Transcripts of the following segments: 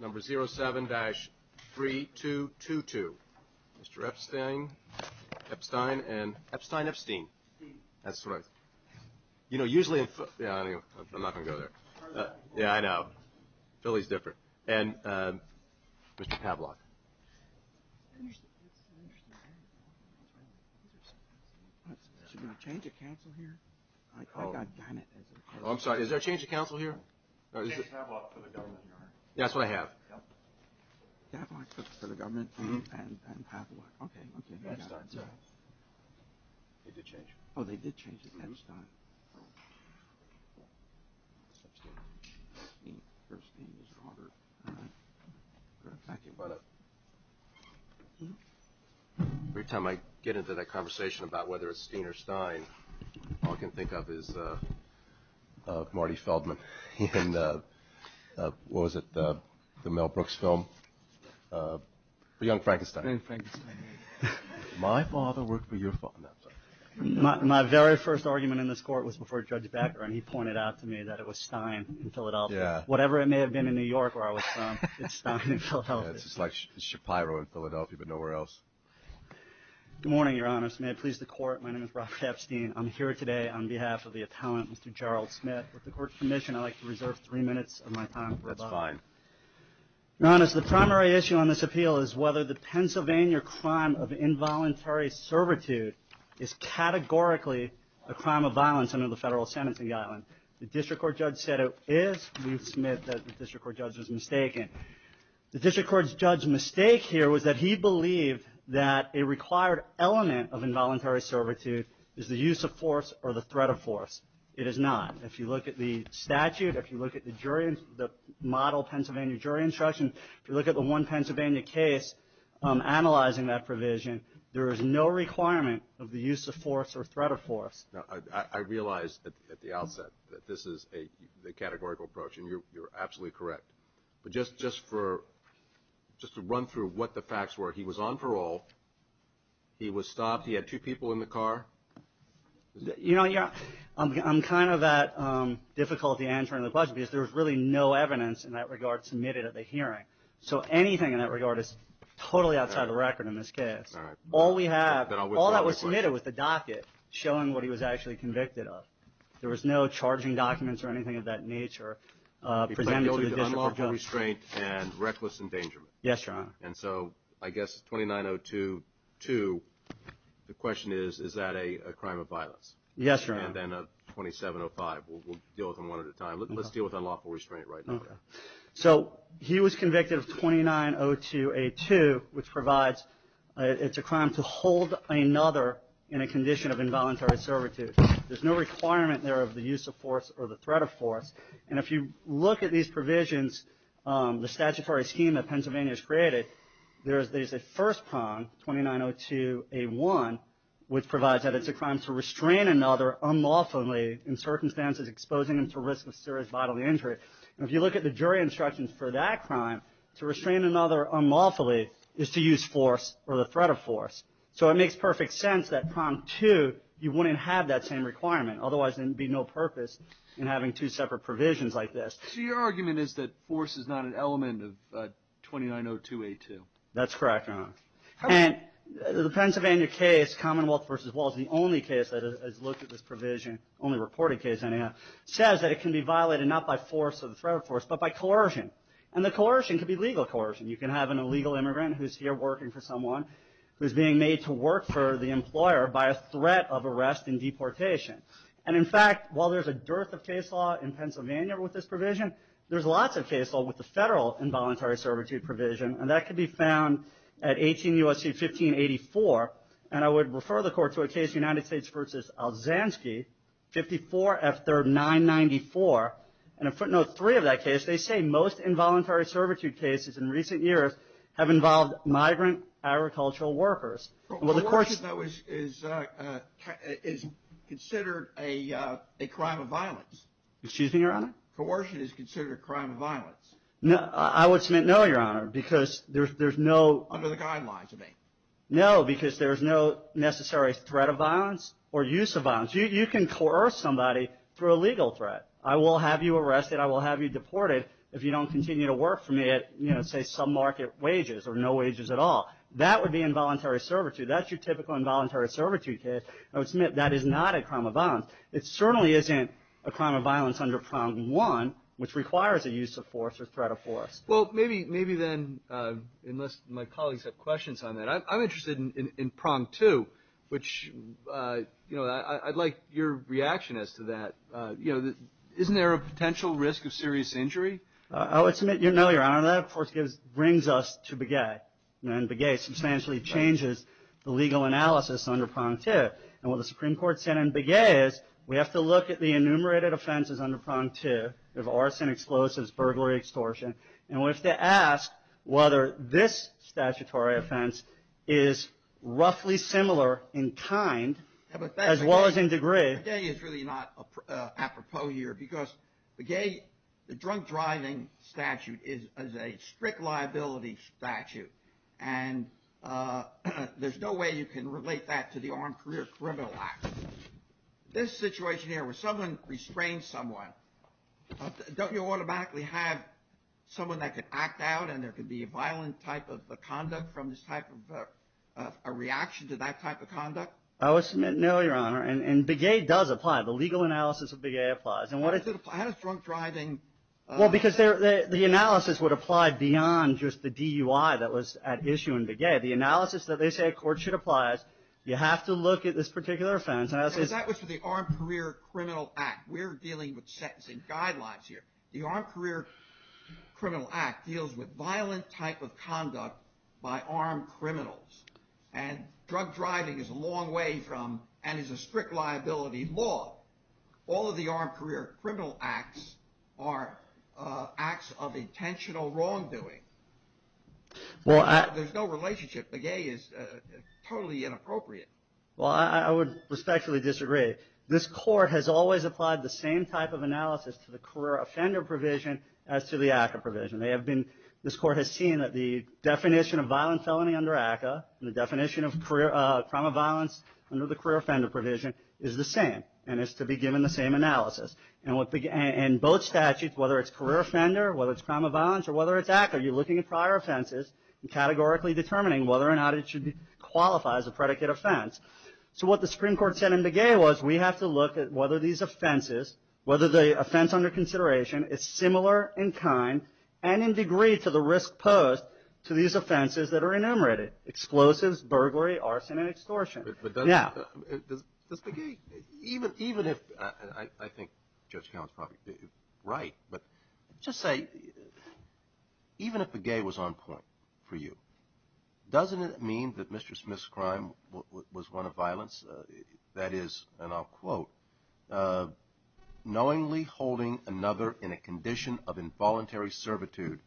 number 07-3222. Mr. Epstein, Epstein, and Epstein, Epstein, that's right. You know, usually in, yeah, I'm not going to go there. Yeah, I know. Philly's different. And Mr. Pavlok. I'm sorry. Is there a change of council here? That's what I have. Oh, they did change it. Every time I get into that conversation about whether it's Steen or Stein, all I can think of is Marty Feldman. My father worked for your father. My very first argument in this court was before Judge Becker, and he pointed out to me that it was Stein in Philadelphia. Whatever it may have been in New York where I was from, it's Stein in Philadelphia. It's like Shapiro in Philadelphia, but nowhere else. Good morning, Your Honor. May it please the Court, my name is Robert Epstein. I'm here today on behalf of the appellant, Mr. Gerald Smith. With the Court's permission, I'd like to reserve three minutes of my time. That's fine. Your Honor, the primary issue on this appeal is whether the Pennsylvania crime of involuntary servitude is categorically a crime of violence under the federal sentence in the island. The district court judge said it is, Ruth Smith, that the district court judge was mistaken. The district court judge's mistake here was that he believed that a required element of involuntary servitude is the use of force or the threat of force. It is not. If you look at the statute, if you look at the jury, the model Pennsylvania jury instruction, if you look at the one Pennsylvania case analyzing that provision, there is no requirement of the use of force or threat of force. I realize at the outset that this is a categorical approach, and you're absolutely correct. But just to run through what the facts were, he was on parole. He was stopped. He had two people in the car. You know, I'm kind of at difficulty answering the question because there's really no evidence in that regard submitted at the hearing. So anything in that regard is totally outside the record in this case. All we have, all that was submitted was the docket showing what he was actually convicted of. There was no charging documents or anything of that nature presented to the district court judge. Unlawful restraint and reckless endangerment. Yes, Your Honor. And so I guess 2902-2, the question is, is that a crime of violence? Yes, Your Honor. And then 2705, we'll deal with them one at a time. Let's deal with unlawful restraint right now. So he was convicted of 2902-A2, which provides it's a crime to hold another in a condition of involuntary servitude. There's no requirement there of the use of force or the threat of force. And if you look at these provisions, the statutory scheme that Pennsylvania has created, there's a first prong, 2902-A1, which provides that it's a crime to restrain another unlawfully in circumstances exposing them to risk of serious bodily injury. And if you look at the jury instructions for that crime, to restrain another unlawfully is to use force or the threat of force. So it makes perfect sense that prong 2, you wouldn't have that same requirement. Otherwise, there'd be no purpose in having two separate provisions like this. So your argument is that force is not an element of 2902-A2. That's correct, Your Honor. And the Pennsylvania case, Commonwealth v. Walls, the only case that has looked at this provision, only reported case anyhow, says that it can be violated not by force or the threat of force, but by coercion. And the coercion could be legal coercion. You can have an illegal immigrant who's here working for someone who's being made to work for the employer by a threat of arrest and deportation. And in fact, while there's a dearth of case law in Pennsylvania with this provision, there's lots of case law with the federal involuntary servitude provision. And that can be found at 18 U.S.C. 1584. And I would refer the court to a case, United States v. Alzansky, 54 F. 3rd 994. And in footnote 3 of that case, they say most involuntary servitude cases in recent years have been in the U.S. have involved migrant agricultural workers. Coercion is considered a crime of violence. Excuse me, Your Honor? Coercion is considered a crime of violence. I would submit no, Your Honor, because there's no... Under the guidelines, you mean. No, because there's no necessary threat of violence or use of violence. You can coerce somebody through a legal threat. I will have you arrested. I will have you deported if you don't continue to work for me at, you know, say, some market wages or no wages at all. That would be involuntary servitude. That's your typical involuntary servitude case. I would submit that is not a crime of violence. It certainly isn't a crime of violence under Prompt 1, which requires a use of force or threat of force. Well, maybe then, unless my colleagues have questions on that. I'm interested in Prompt 2, which, you know, I'd like your reaction as to that. You know, isn't there a potential risk of serious injury? I would submit no, Your Honor. That brings us to Begay, and Begay substantially changes the legal analysis under Prompt 2. And what the Supreme Court said in Begay is we have to look at the enumerated offenses under Prompt 2. There's arson, explosives, burglary, extortion. And we have to ask whether this statutory offense is roughly similar in kind as well as in degree. Begay is really not apropos here because Begay, the drunk driving statute is a strict liability statute. And there's no way you can relate that to the Armed Career Criminal Act. This situation here where someone restrains someone, don't you automatically have someone that could act out and there could be a violent type of conduct from this type of a reaction to that type of conduct? I would submit no, Your Honor. And Begay does apply. The legal analysis of Begay applies. And what does it apply? How does drunk driving? Well, because the analysis would apply beyond just the DUI that was at issue in Begay. The analysis that they say a court should apply, you have to look at this particular offense. That was for the Armed Career Criminal Act. We're dealing with sentencing guidelines here. The Armed Career Criminal Act deals with violent type of conduct by armed criminals. And drug driving is a long way from and is a strict liability law. All of the Armed Career Criminal Acts are acts of intentional wrongdoing. There's no relationship. Begay is totally inappropriate. Well, I would respectfully disagree. This court has always applied the same type of analysis to the career offender provision as to the ACCA provision. This court has seen that the definition of violent felony under ACCA and the definition of crime of violence under the career offender provision is the same and is to be given the same analysis. And both statutes, whether it's career offender, whether it's crime of violence, or whether it's ACCA, you're looking at prior offenses and categorically determining whether or not it should qualify as a predicate offense. So what the Supreme Court said in Begay was we have to look at whether these offenses, whether the offense under consideration is similar in kind and in degree to the risk posed to these offenses that are enumerated, explosives, burglary, arson, and extortion. But does Begay, even if I think Judge Collins is probably right, but just say even if Begay was on point for you, doesn't it mean that Mr. Smith's crime was one of violence? That is, and I'll quote, knowingly holding another in a condition of involuntary servitude.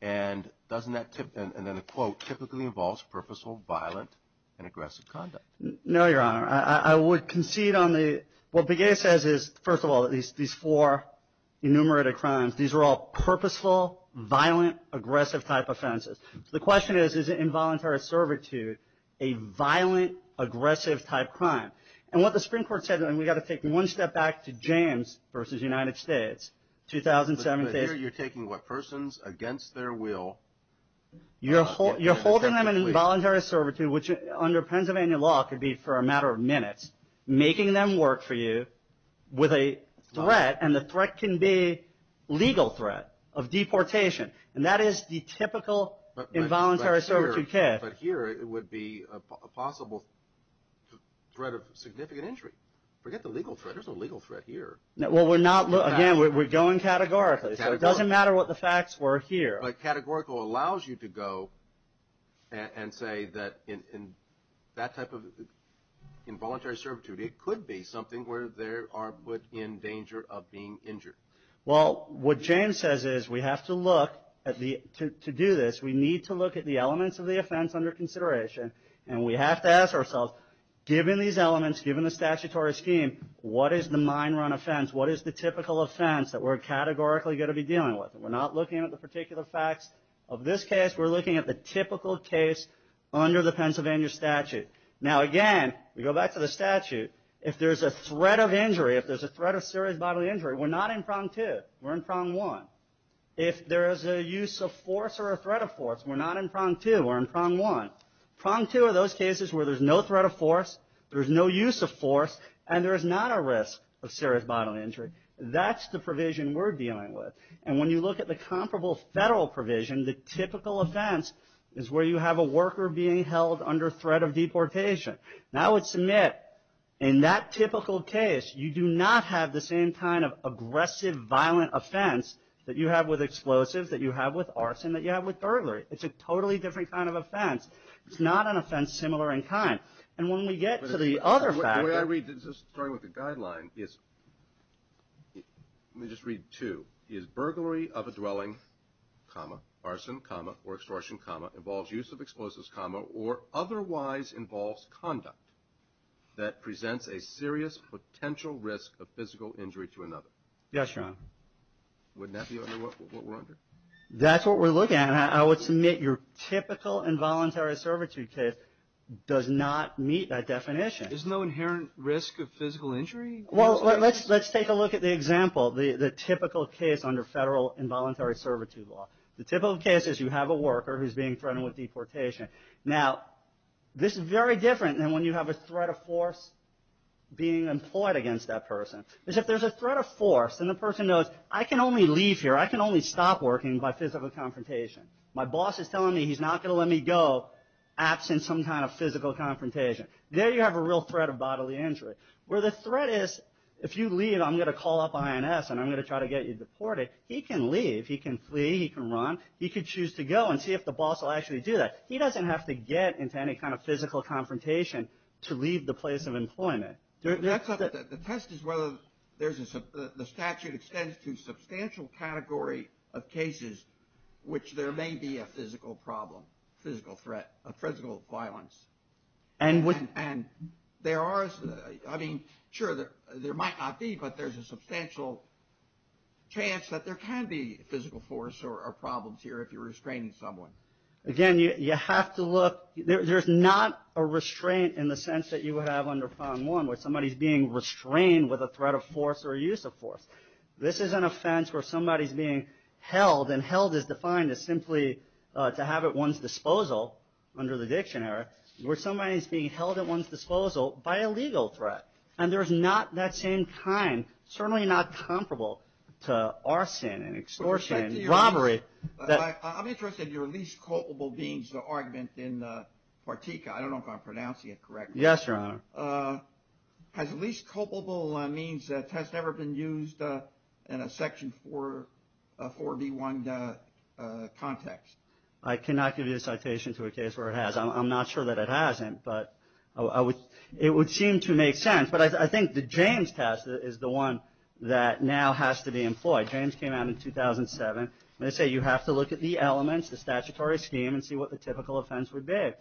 And doesn't that, and then a quote, typically involves purposeful, violent, and aggressive conduct? No, Your Honor. I would concede on the, what Begay says is, first of all, these four enumerated crimes, these are all purposeful, violent, aggressive type offenses. So the question is, is involuntary servitude a violent, aggressive type crime? And what the Supreme Court said, and we've got to take one step back to James v. United States, 2007. You're taking what, persons against their will? You're holding them in involuntary servitude, which under Pennsylvania law could be for a matter of minutes, making them work for you with a threat, and the threat can be legal threat of deportation. And that is the typical involuntary servitude case. But here it would be a possible threat of significant injury. Forget the legal threat, there's no legal threat here. Well, we're not, again, we're going categorically. So it doesn't matter what the facts were here. But categorical allows you to go and say that in that type of involuntary servitude, it could be something where they are put in danger of being injured. Well, what James says is we have to look at the, to do this, we need to look at the elements of the offense under consideration, and we have to ask ourselves, given these elements, given the statutory scheme, what is the mine run offense? What is the typical offense that we're categorically going to be dealing with? We're not looking at the particular facts of this case. We're looking at the typical case under the Pennsylvania statute. Now, again, we go back to the statute. If there's a threat of injury, if there's a threat of serious bodily injury, we're not in prong two. We're in prong one. If there is a use of force or a threat of force, we're not in prong two. We're in prong one. Prong two are those cases where there's no threat of force, there's no use of force, and there is not a risk of serious bodily injury. That's the provision we're dealing with. And when you look at the comparable federal provision, the typical offense is where you have a worker being held under threat of deportation. And I would submit in that typical case, you do not have the same kind of aggressive, violent offense that you have with explosives, that you have with arson, that you have with burglary. It's a totally different kind of offense. It's not an offense similar in kind. And when we get to the other factor. The way I read this, starting with the guideline, is, let me just read two. Is burglary of a dwelling, comma, arson, comma, or extortion, comma, involves use of explosives, comma, or otherwise involves conduct that presents a serious potential risk of physical injury to another. Yes, John. Wouldn't that be what we're under? That's what we're looking at. I would submit your typical involuntary servitude case does not meet that definition. There's no inherent risk of physical injury? Well, let's take a look at the example, the typical case under federal involuntary servitude law. The typical case is you have a worker who's being threatened with deportation. Now, this is very different than when you have a threat of force being employed against that person. If there's a threat of force and the person knows, I can only leave here. I can only stop working by physical confrontation. My boss is telling me he's not going to let me go absent some kind of physical confrontation. There you have a real threat of bodily injury. Where the threat is, if you leave, I'm going to call up INS and I'm going to try to get you deported. He can leave. He can flee. He can run. He could choose to go and see if the boss will actually do that. He doesn't have to get into any kind of physical confrontation to leave the place of employment. The test is whether the statute extends to a substantial category of cases which there may be a physical problem, physical threat, physical violence. And there are, I mean, sure, there might not be, but there's a substantial chance that there can be physical force or problems here if you're restraining someone. Again, you have to look, there's not a restraint in the sense that you would have under fond one where somebody's being restrained with a threat of force or a use of force. This is an offense where somebody's being held, and held is defined as simply to have at one's disposal, under the dictionary, where somebody's being held at one's disposal by a legal threat. And there's not that same kind, certainly not comparable to arson and extortion and robbery. I'm interested in your least culpable means argument in Partika. I don't know if I'm pronouncing it correctly. Yes, Your Honor. Has least culpable means test ever been used in a Section 4B1 context? I cannot give you a citation to a case where it has. I'm not sure that it hasn't, but it would seem to make sense. But I think the James test is the one that now has to be employed. James came out in 2007, and they say you have to look at the elements, the statutory scheme, and see what the typical offense would be.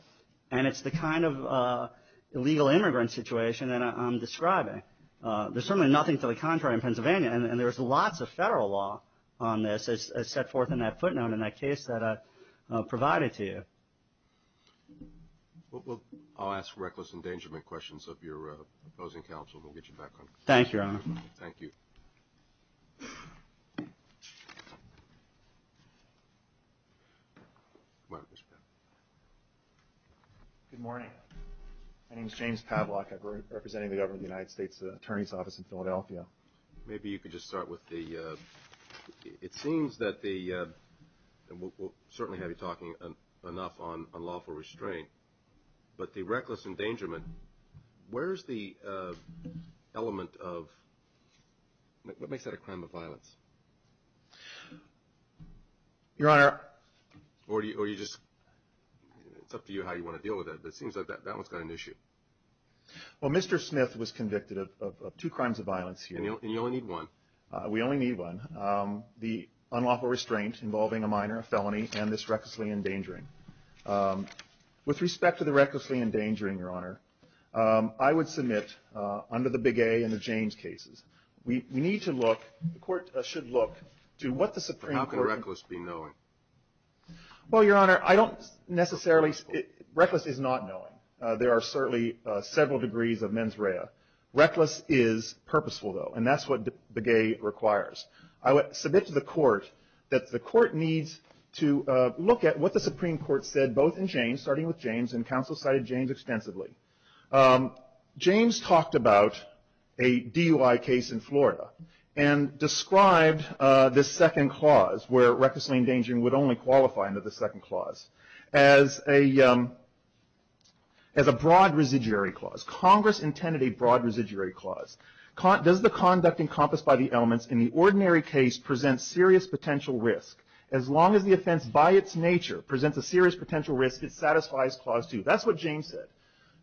And it's the kind of illegal immigrant situation that I'm describing. There's certainly nothing to the contrary in Pennsylvania, and there's lots of federal law on this as set forth in that footnote in that case that I provided to you. I'll ask reckless endangerment questions of your opposing counsel, and we'll get you back on. Thank you, Your Honor. Thank you. Good morning. My name is James Pavlak. I'm representing the government of the United States Attorney's Office in Philadelphia. Maybe you could just start with the – it seems that the – and we'll certainly have you talking enough on unlawful restraint, but the reckless endangerment, where's the element of – what makes that a crime of violence? Your Honor. Or do you just – it's up to you how you want to deal with it, but it seems like that one's got an issue. Well, Mr. Smith was convicted of two crimes of violence here. And you only need one. We only need one. The unlawful restraint involving a minor, a felony, and this recklessly endangering. With respect to the recklessly endangering, Your Honor, I would submit under the Begay and the James cases, we need to look – the court should look to what the Supreme Court – How can reckless be knowing? Well, Your Honor, I don't necessarily – reckless is not knowing. There are certainly several degrees of mens rea. Reckless is purposeful, though, and that's what Begay requires. I would submit to the court that the court needs to look at what the Supreme Court said both in James, starting with James, and counsel cited James extensively. James talked about a DUI case in Florida and described this second clause, where recklessly endangering would only qualify under the second clause, as a broad residuary clause. Congress intended a broad residuary clause. Does the conduct encompassed by the elements in the ordinary case present serious potential risk? As long as the offense by its nature presents a serious potential risk, it satisfies Clause 2. That's what James said.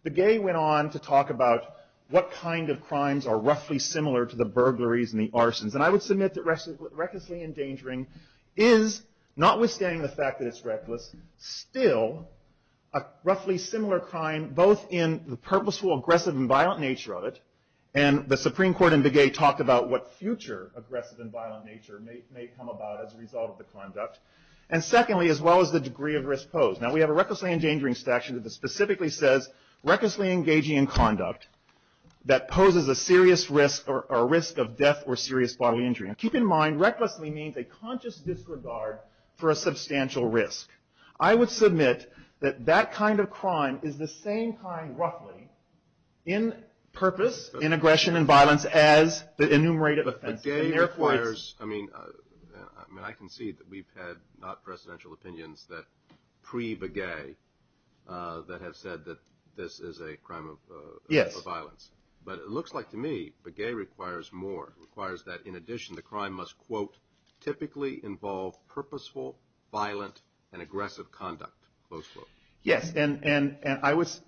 Begay went on to talk about what kind of crimes are roughly similar to the burglaries and the arsons. And I would submit that recklessly endangering is, notwithstanding the fact that it's reckless, still a roughly similar crime, both in the purposeful, aggressive, and violent nature of it, and the Supreme Court in Begay talked about what future aggressive and violent nature may come about as a result of the conduct, and secondly, as well as the degree of risk posed. Now, we have a recklessly endangering statute that specifically says, recklessly engaging in conduct that poses a serious risk or risk of death or serious bodily injury. Now, keep in mind, recklessly means a conscious disregard for a substantial risk. I would submit that that kind of crime is the same kind, roughly, in purpose, in aggression and violence, as the enumerated offenses. Begay requires, I mean, I can see that we've had not-presidential opinions that, pre-Begay, that have said that this is a crime of violence. Yes. But it looks like, to me, Begay requires more. It requires that, in addition, the crime must, quote, typically involve purposeful, violent, and aggressive conduct, close quote. Yes, and I was,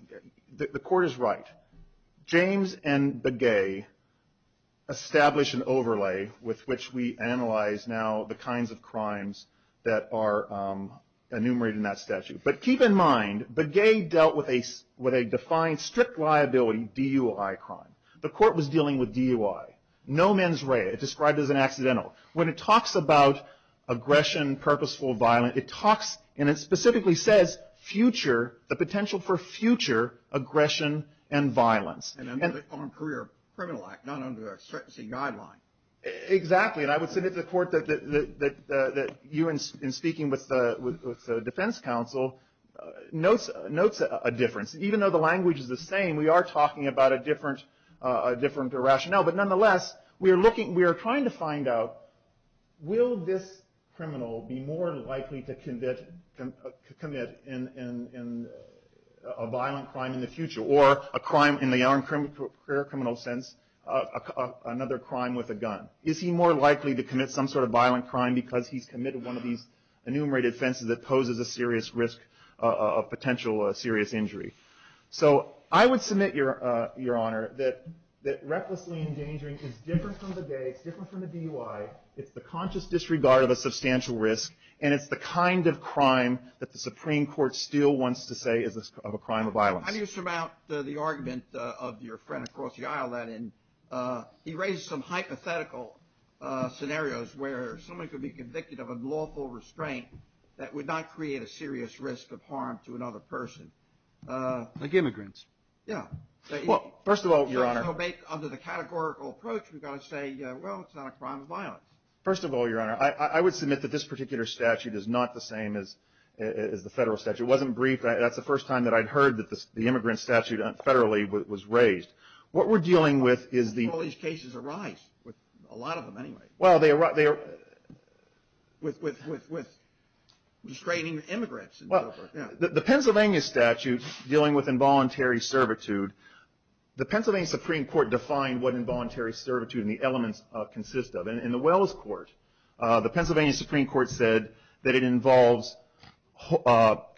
the court is right. James and Begay establish an overlay with which we analyze, now, the kinds of crimes that are enumerated in that statute. But keep in mind, Begay dealt with a defined, strict liability DUI crime. The court was dealing with DUI. No mens rea. It's described as an accidental. When it talks about aggression, purposeful violence, it talks, and it specifically says, future, the potential for future aggression and violence. And under the Foreign Career Criminal Act, not under the sentencing guideline. Exactly. And I would submit to the court that you, in speaking with the defense counsel, notes a difference. Even though the language is the same, we are talking about a different rationale. But nonetheless, we are looking, we are trying to find out, will this criminal be more likely to commit a violent crime in the future? Or a crime in the armed career criminal sense, another crime with a gun. Is he more likely to commit some sort of violent crime because he's committed one of these enumerated offenses that poses a serious risk of potential serious injury? So I would submit, Your Honor, that recklessly endangering is different from Begay. It's different from the DUI. It's the conscious disregard of a substantial risk. And it's the kind of crime that the Supreme Court still wants to say is a crime of violence. How do you surmount the argument of your friend across the aisle? He raised some hypothetical scenarios where someone could be convicted of unlawful restraint that would not create a serious risk of harm to another person. Like immigrants. Yeah. Well, first of all, Your Honor. Under the categorical approach, we've got to say, well, it's not a crime of violence. First of all, Your Honor, I would submit that this particular statute is not the same as the federal statute. It wasn't briefed. That's the first time that I'd heard that the immigrant statute federally was raised. What we're dealing with is the – Well, these cases arise, a lot of them anyway. Well, they – With restraining immigrants. The Pennsylvania statute dealing with involuntary servitude, the Pennsylvania Supreme Court defined what involuntary servitude and the elements consist of. In the Wells Court, the Pennsylvania Supreme Court said that it involves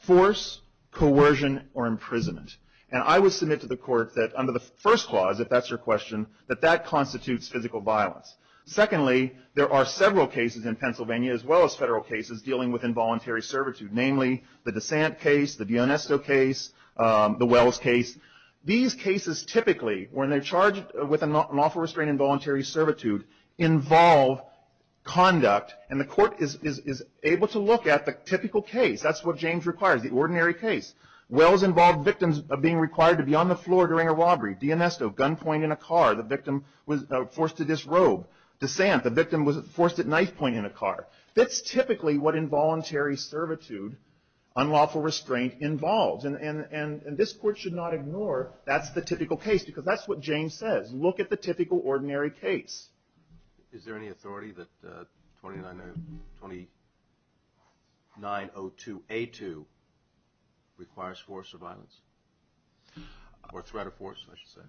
force, coercion, or imprisonment. And I would submit to the court that under the first clause, if that's your question, that that constitutes physical violence. Secondly, there are several cases in Pennsylvania, as well as federal cases, dealing with involuntary servitude. Namely, the Desant case, the Dionesto case, the Wells case. These cases typically, when they're charged with an awful restraint in voluntary servitude, involve conduct. And the court is able to look at the typical case. That's what James requires, the ordinary case. Wells involved victims being required to be on the floor during a robbery. Dionesto, gunpoint in a car. The victim was forced to disrobe. Desant, the victim was forced at knife point in a car. That's typically what involuntary servitude, unlawful restraint, involves. And this court should not ignore that's the typical case, because that's what James says. Look at the typical, ordinary case. Is there any authority that 2902A2 requires force or violence? Or threat of force, I should say.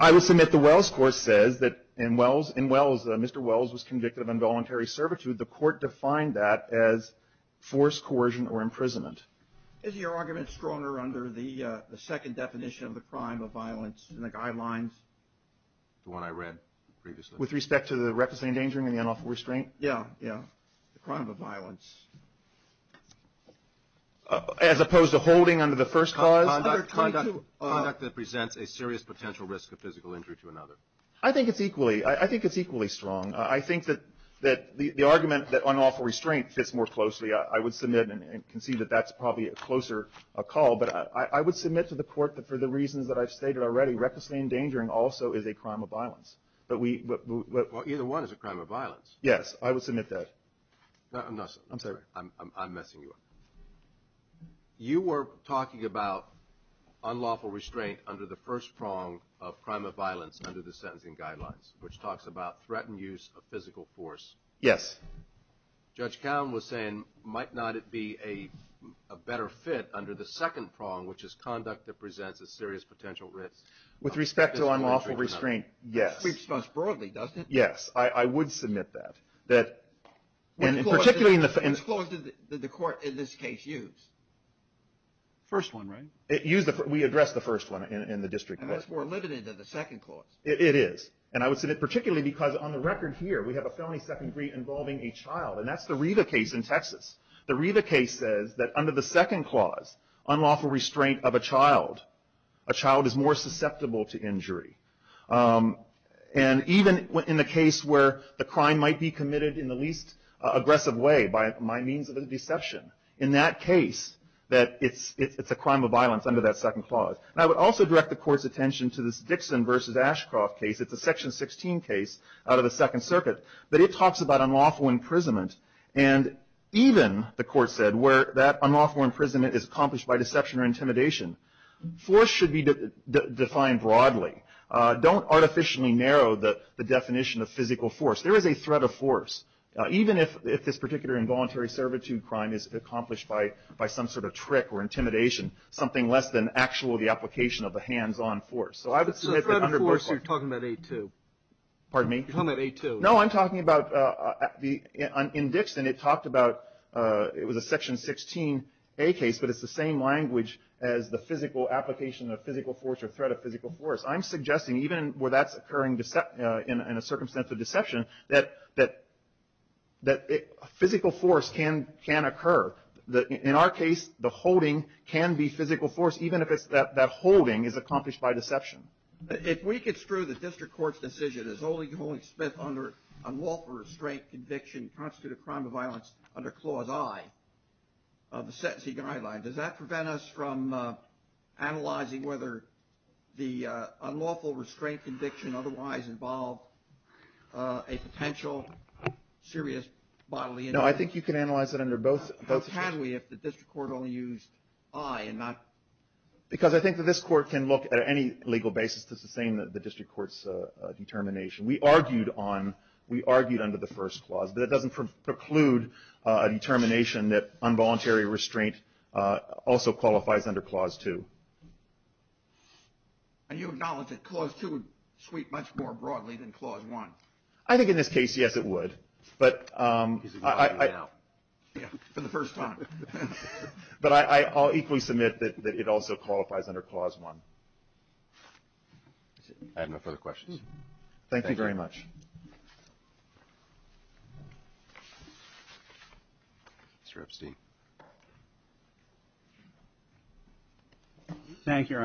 I will submit the Wells court says that in Wells, Mr. Wells was convicted of involuntary servitude. The court defined that as force, coercion, or imprisonment. Is your argument stronger under the second definition of the crime of violence in the guidelines? The one I read previously. With respect to the reckless endangering and the unlawful restraint? Yeah, yeah. The crime of violence. As opposed to holding under the first clause? Conduct that presents a serious potential risk of physical injury to another. I think it's equally strong. I think that the argument that unlawful restraint fits more closely, I would submit and concede that that's probably a closer call. But I would submit to the court that for the reasons that I've stated already, recklessly endangering also is a crime of violence. Either one is a crime of violence. Yes, I would submit that. I'm messing you up. You were talking about unlawful restraint under the first prong of crime of violence under the sentencing guidelines, which talks about threatened use of physical force. Yes. Judge Cowen was saying might not it be a better fit under the second prong, which is conduct that presents a serious potential risk. With respect to unlawful restraint, yes. It speaks most broadly, doesn't it? Yes, I would submit that. Which clause did the court in this case use? First one, right? We addressed the first one in the district court. And that's more limited than the second clause. It is. And I would submit particularly because on the record here, we have a felony second degree involving a child. And that's the Riva case in Texas. The Riva case says that under the second clause, unlawful restraint of a child, a child is more susceptible to injury. And even in the case where the crime might be committed in the least aggressive way by means of a deception. In that case, it's a crime of violence under that second clause. And I would also direct the court's attention to this Dixon v. Ashcroft case. It's a Section 16 case out of the Second Circuit. But it talks about unlawful imprisonment. And even, the court said, where that unlawful imprisonment is accomplished by deception or intimidation. Force should be defined broadly. Don't artificially narrow the definition of physical force. There is a threat of force. Even if this particular involuntary servitude crime is accomplished by some sort of trick or intimidation, something less than actual the application of the hands-on force. So I would submit that under both. The threat of force you're talking about A2. Pardon me? You're talking about A2. No, I'm talking about, in Dixon, it talked about, it was a Section 16A case. But it's the same language as the physical application of physical force or threat of physical force. I'm suggesting, even where that's occurring in a circumstance of deception, that physical force can occur. In our case, the holding can be physical force, even if that holding is accomplished by deception. If we could screw the district court's decision as only holding Smith under unlawful restraint, conviction, and constitute a crime of violence under Clause I of the sentencing guideline, does that prevent us from analyzing whether the unlawful restraint conviction otherwise involved a potential serious bodily injury? No, I think you can analyze it under both. How can we if the district court only used I and not? Because I think that this court can look at any legal basis to sustain the district court's determination. We argued under the first clause. But it doesn't preclude a determination that involuntary restraint also qualifies under Clause II. And you acknowledge that Clause II would sweep much more broadly than Clause I? I think in this case, yes, it would. But I'll equally submit that it also qualifies under Clause I. I have no further questions. Thank you very much. Mr. Epstein. Thank you, Your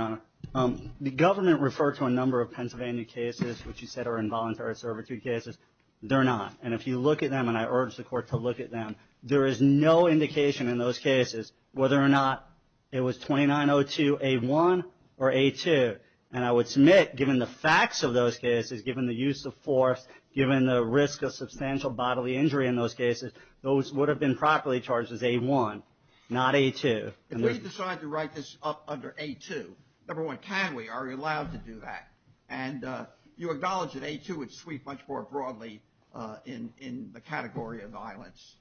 Honor. The government referred to a number of Pennsylvania cases which you said are involuntary servitude cases. They're not. And if you look at them, and I urge the court to look at them, there is no indication in those cases whether or not it was 2902A1 or A2. And I would submit, given the facts of those cases, given the use of force, given the risk of substantial bodily injury in those cases, those would have been properly charged as A1, not A2. Can we decide to write this up under A2? Number one, can we? Are we allowed to do that? And you acknowledge that A2 would sweep much more broadly in the category of violence.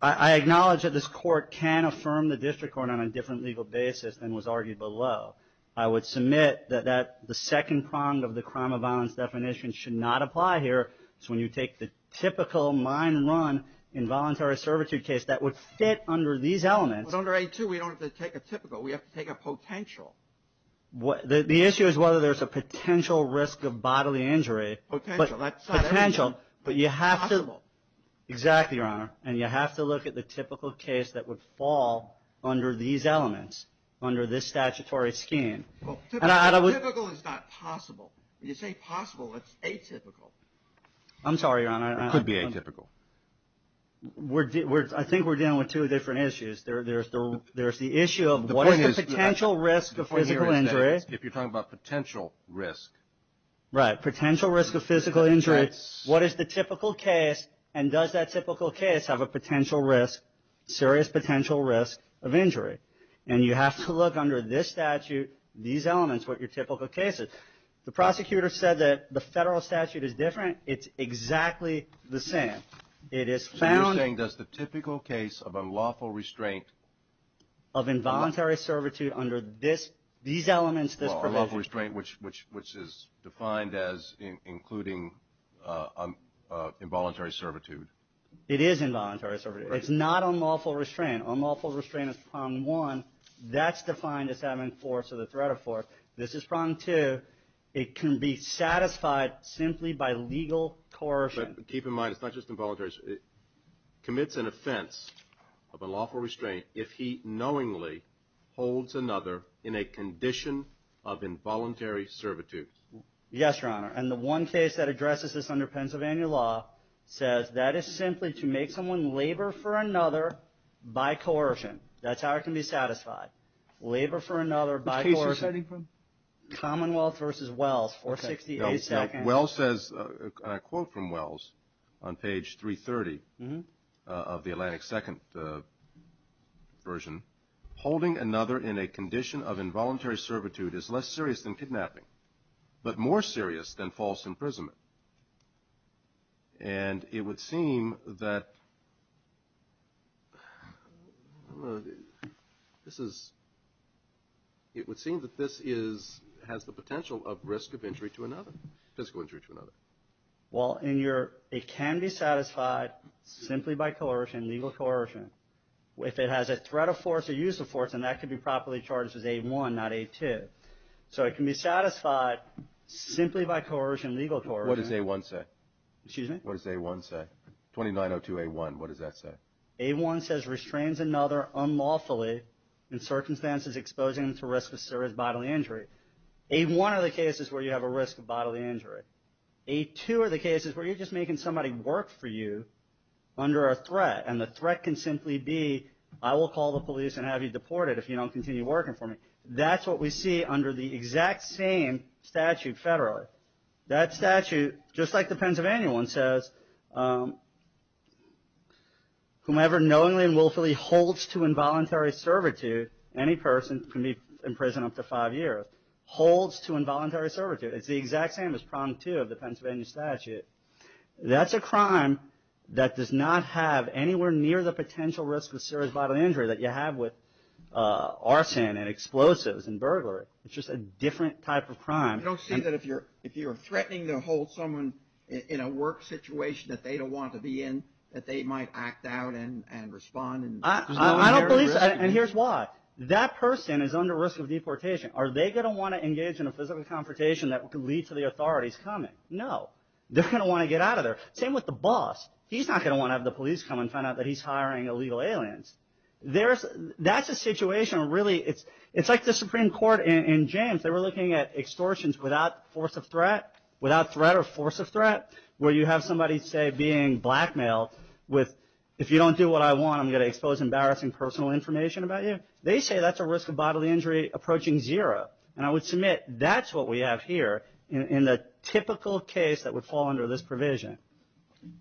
I acknowledge that this court can affirm the district court on a different legal basis than was argued below. I would submit that the second prong of the crime of violence definition should not apply here. It's when you take the typical mine run involuntary servitude case that would fit under these elements. But under A2, we don't have to take a typical. We have to take a potential. The issue is whether there's a potential risk of bodily injury. Potential, that's not everything. Potential, but you have to. Possible. Exactly, Your Honor. And you have to look at the typical case that would fall under these elements, under this statutory scheme. Typical is not possible. When you say possible, it's atypical. I'm sorry, Your Honor. It could be atypical. I think we're dealing with two different issues. There's the issue of what is the potential risk of physical injury. If you're talking about potential risk. Right, potential risk of physical injury. What is the typical case, and does that typical case have a potential risk, serious potential risk of injury? And you have to look under this statute, these elements, what your typical case is. The prosecutor said that the federal statute is different. It's exactly the same. So you're saying does the typical case of unlawful restraint. Of involuntary servitude under these elements, this provision. Unlawful restraint, which is defined as including involuntary servitude. It is involuntary servitude. It's not unlawful restraint. Unlawful restraint is prong one. That's defined as having force or the threat of force. This is prong two. It can be satisfied simply by legal coercion. Keep in mind, it's not just involuntary. Commits an offense of unlawful restraint if he knowingly holds another in a condition of involuntary servitude. Yes, Your Honor. And the one case that addresses this under Pennsylvania law says that is simply to make someone labor for another by coercion. That's how it can be satisfied. Labor for another by coercion. Which case are you citing from? Commonwealth versus Wells, 468-2. Well says, a quote from Wells on page 330 of the Atlantic Second version, holding another in a condition of involuntary servitude is less serious than kidnapping, but more serious than false imprisonment. And it would seem that this has the potential of risk of injury to another. Physical injury to another. Well, it can be satisfied simply by coercion, legal coercion. If it has a threat of force or use of force, then that could be properly charged as A1, not A2. So it can be satisfied simply by coercion, legal coercion. What does A1 say? Excuse me? What does A1 say? 2902A1, what does that say? A1 says restrains another unlawfully in circumstances exposing them to risk of serious bodily injury. A1 are the cases where you have a risk of bodily injury. A2 are the cases where you're just making somebody work for you under a threat, and the threat can simply be, I will call the police and have you deported if you don't continue working for me. That's what we see under the exact same statute federally. That statute, just like the Pennsylvania one, says, whomever knowingly and willfully holds to involuntary servitude, any person can be imprisoned up to five years, holds to involuntary servitude. It's the exact same as Prong 2 of the Pennsylvania statute. That's a crime that does not have anywhere near the potential risk of serious bodily injury that you have with arson and explosives and burglary. It's just a different type of crime. I don't see that if you're threatening to hold someone in a work situation that they don't want to be in, that they might act out and respond. I don't believe so, and here's why. That person is under risk of deportation. Are they going to want to engage in a physical confrontation that could lead to the authorities coming? No. They're going to want to get out of there. Same with the boss. He's not going to want to have the police come and find out that he's hiring illegal aliens. That's a situation where really it's like the Supreme Court in James. They were looking at extortions without force of threat, without threat or force of threat, where you have somebody, say, being blackmailed with, if you don't do what I want I'm going to expose embarrassing personal information about you. They say that's a risk of bodily injury approaching zero, and I would submit that's what we have here in the typical case that would fall under this provision.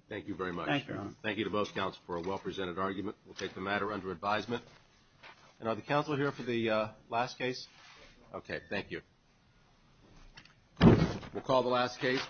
Thank you very much. Thank you, Your Honor. Thank you to both counsels for a well-presented argument. We'll take the matter under advisement. And are the counsel here for the last case? Okay. Thank you.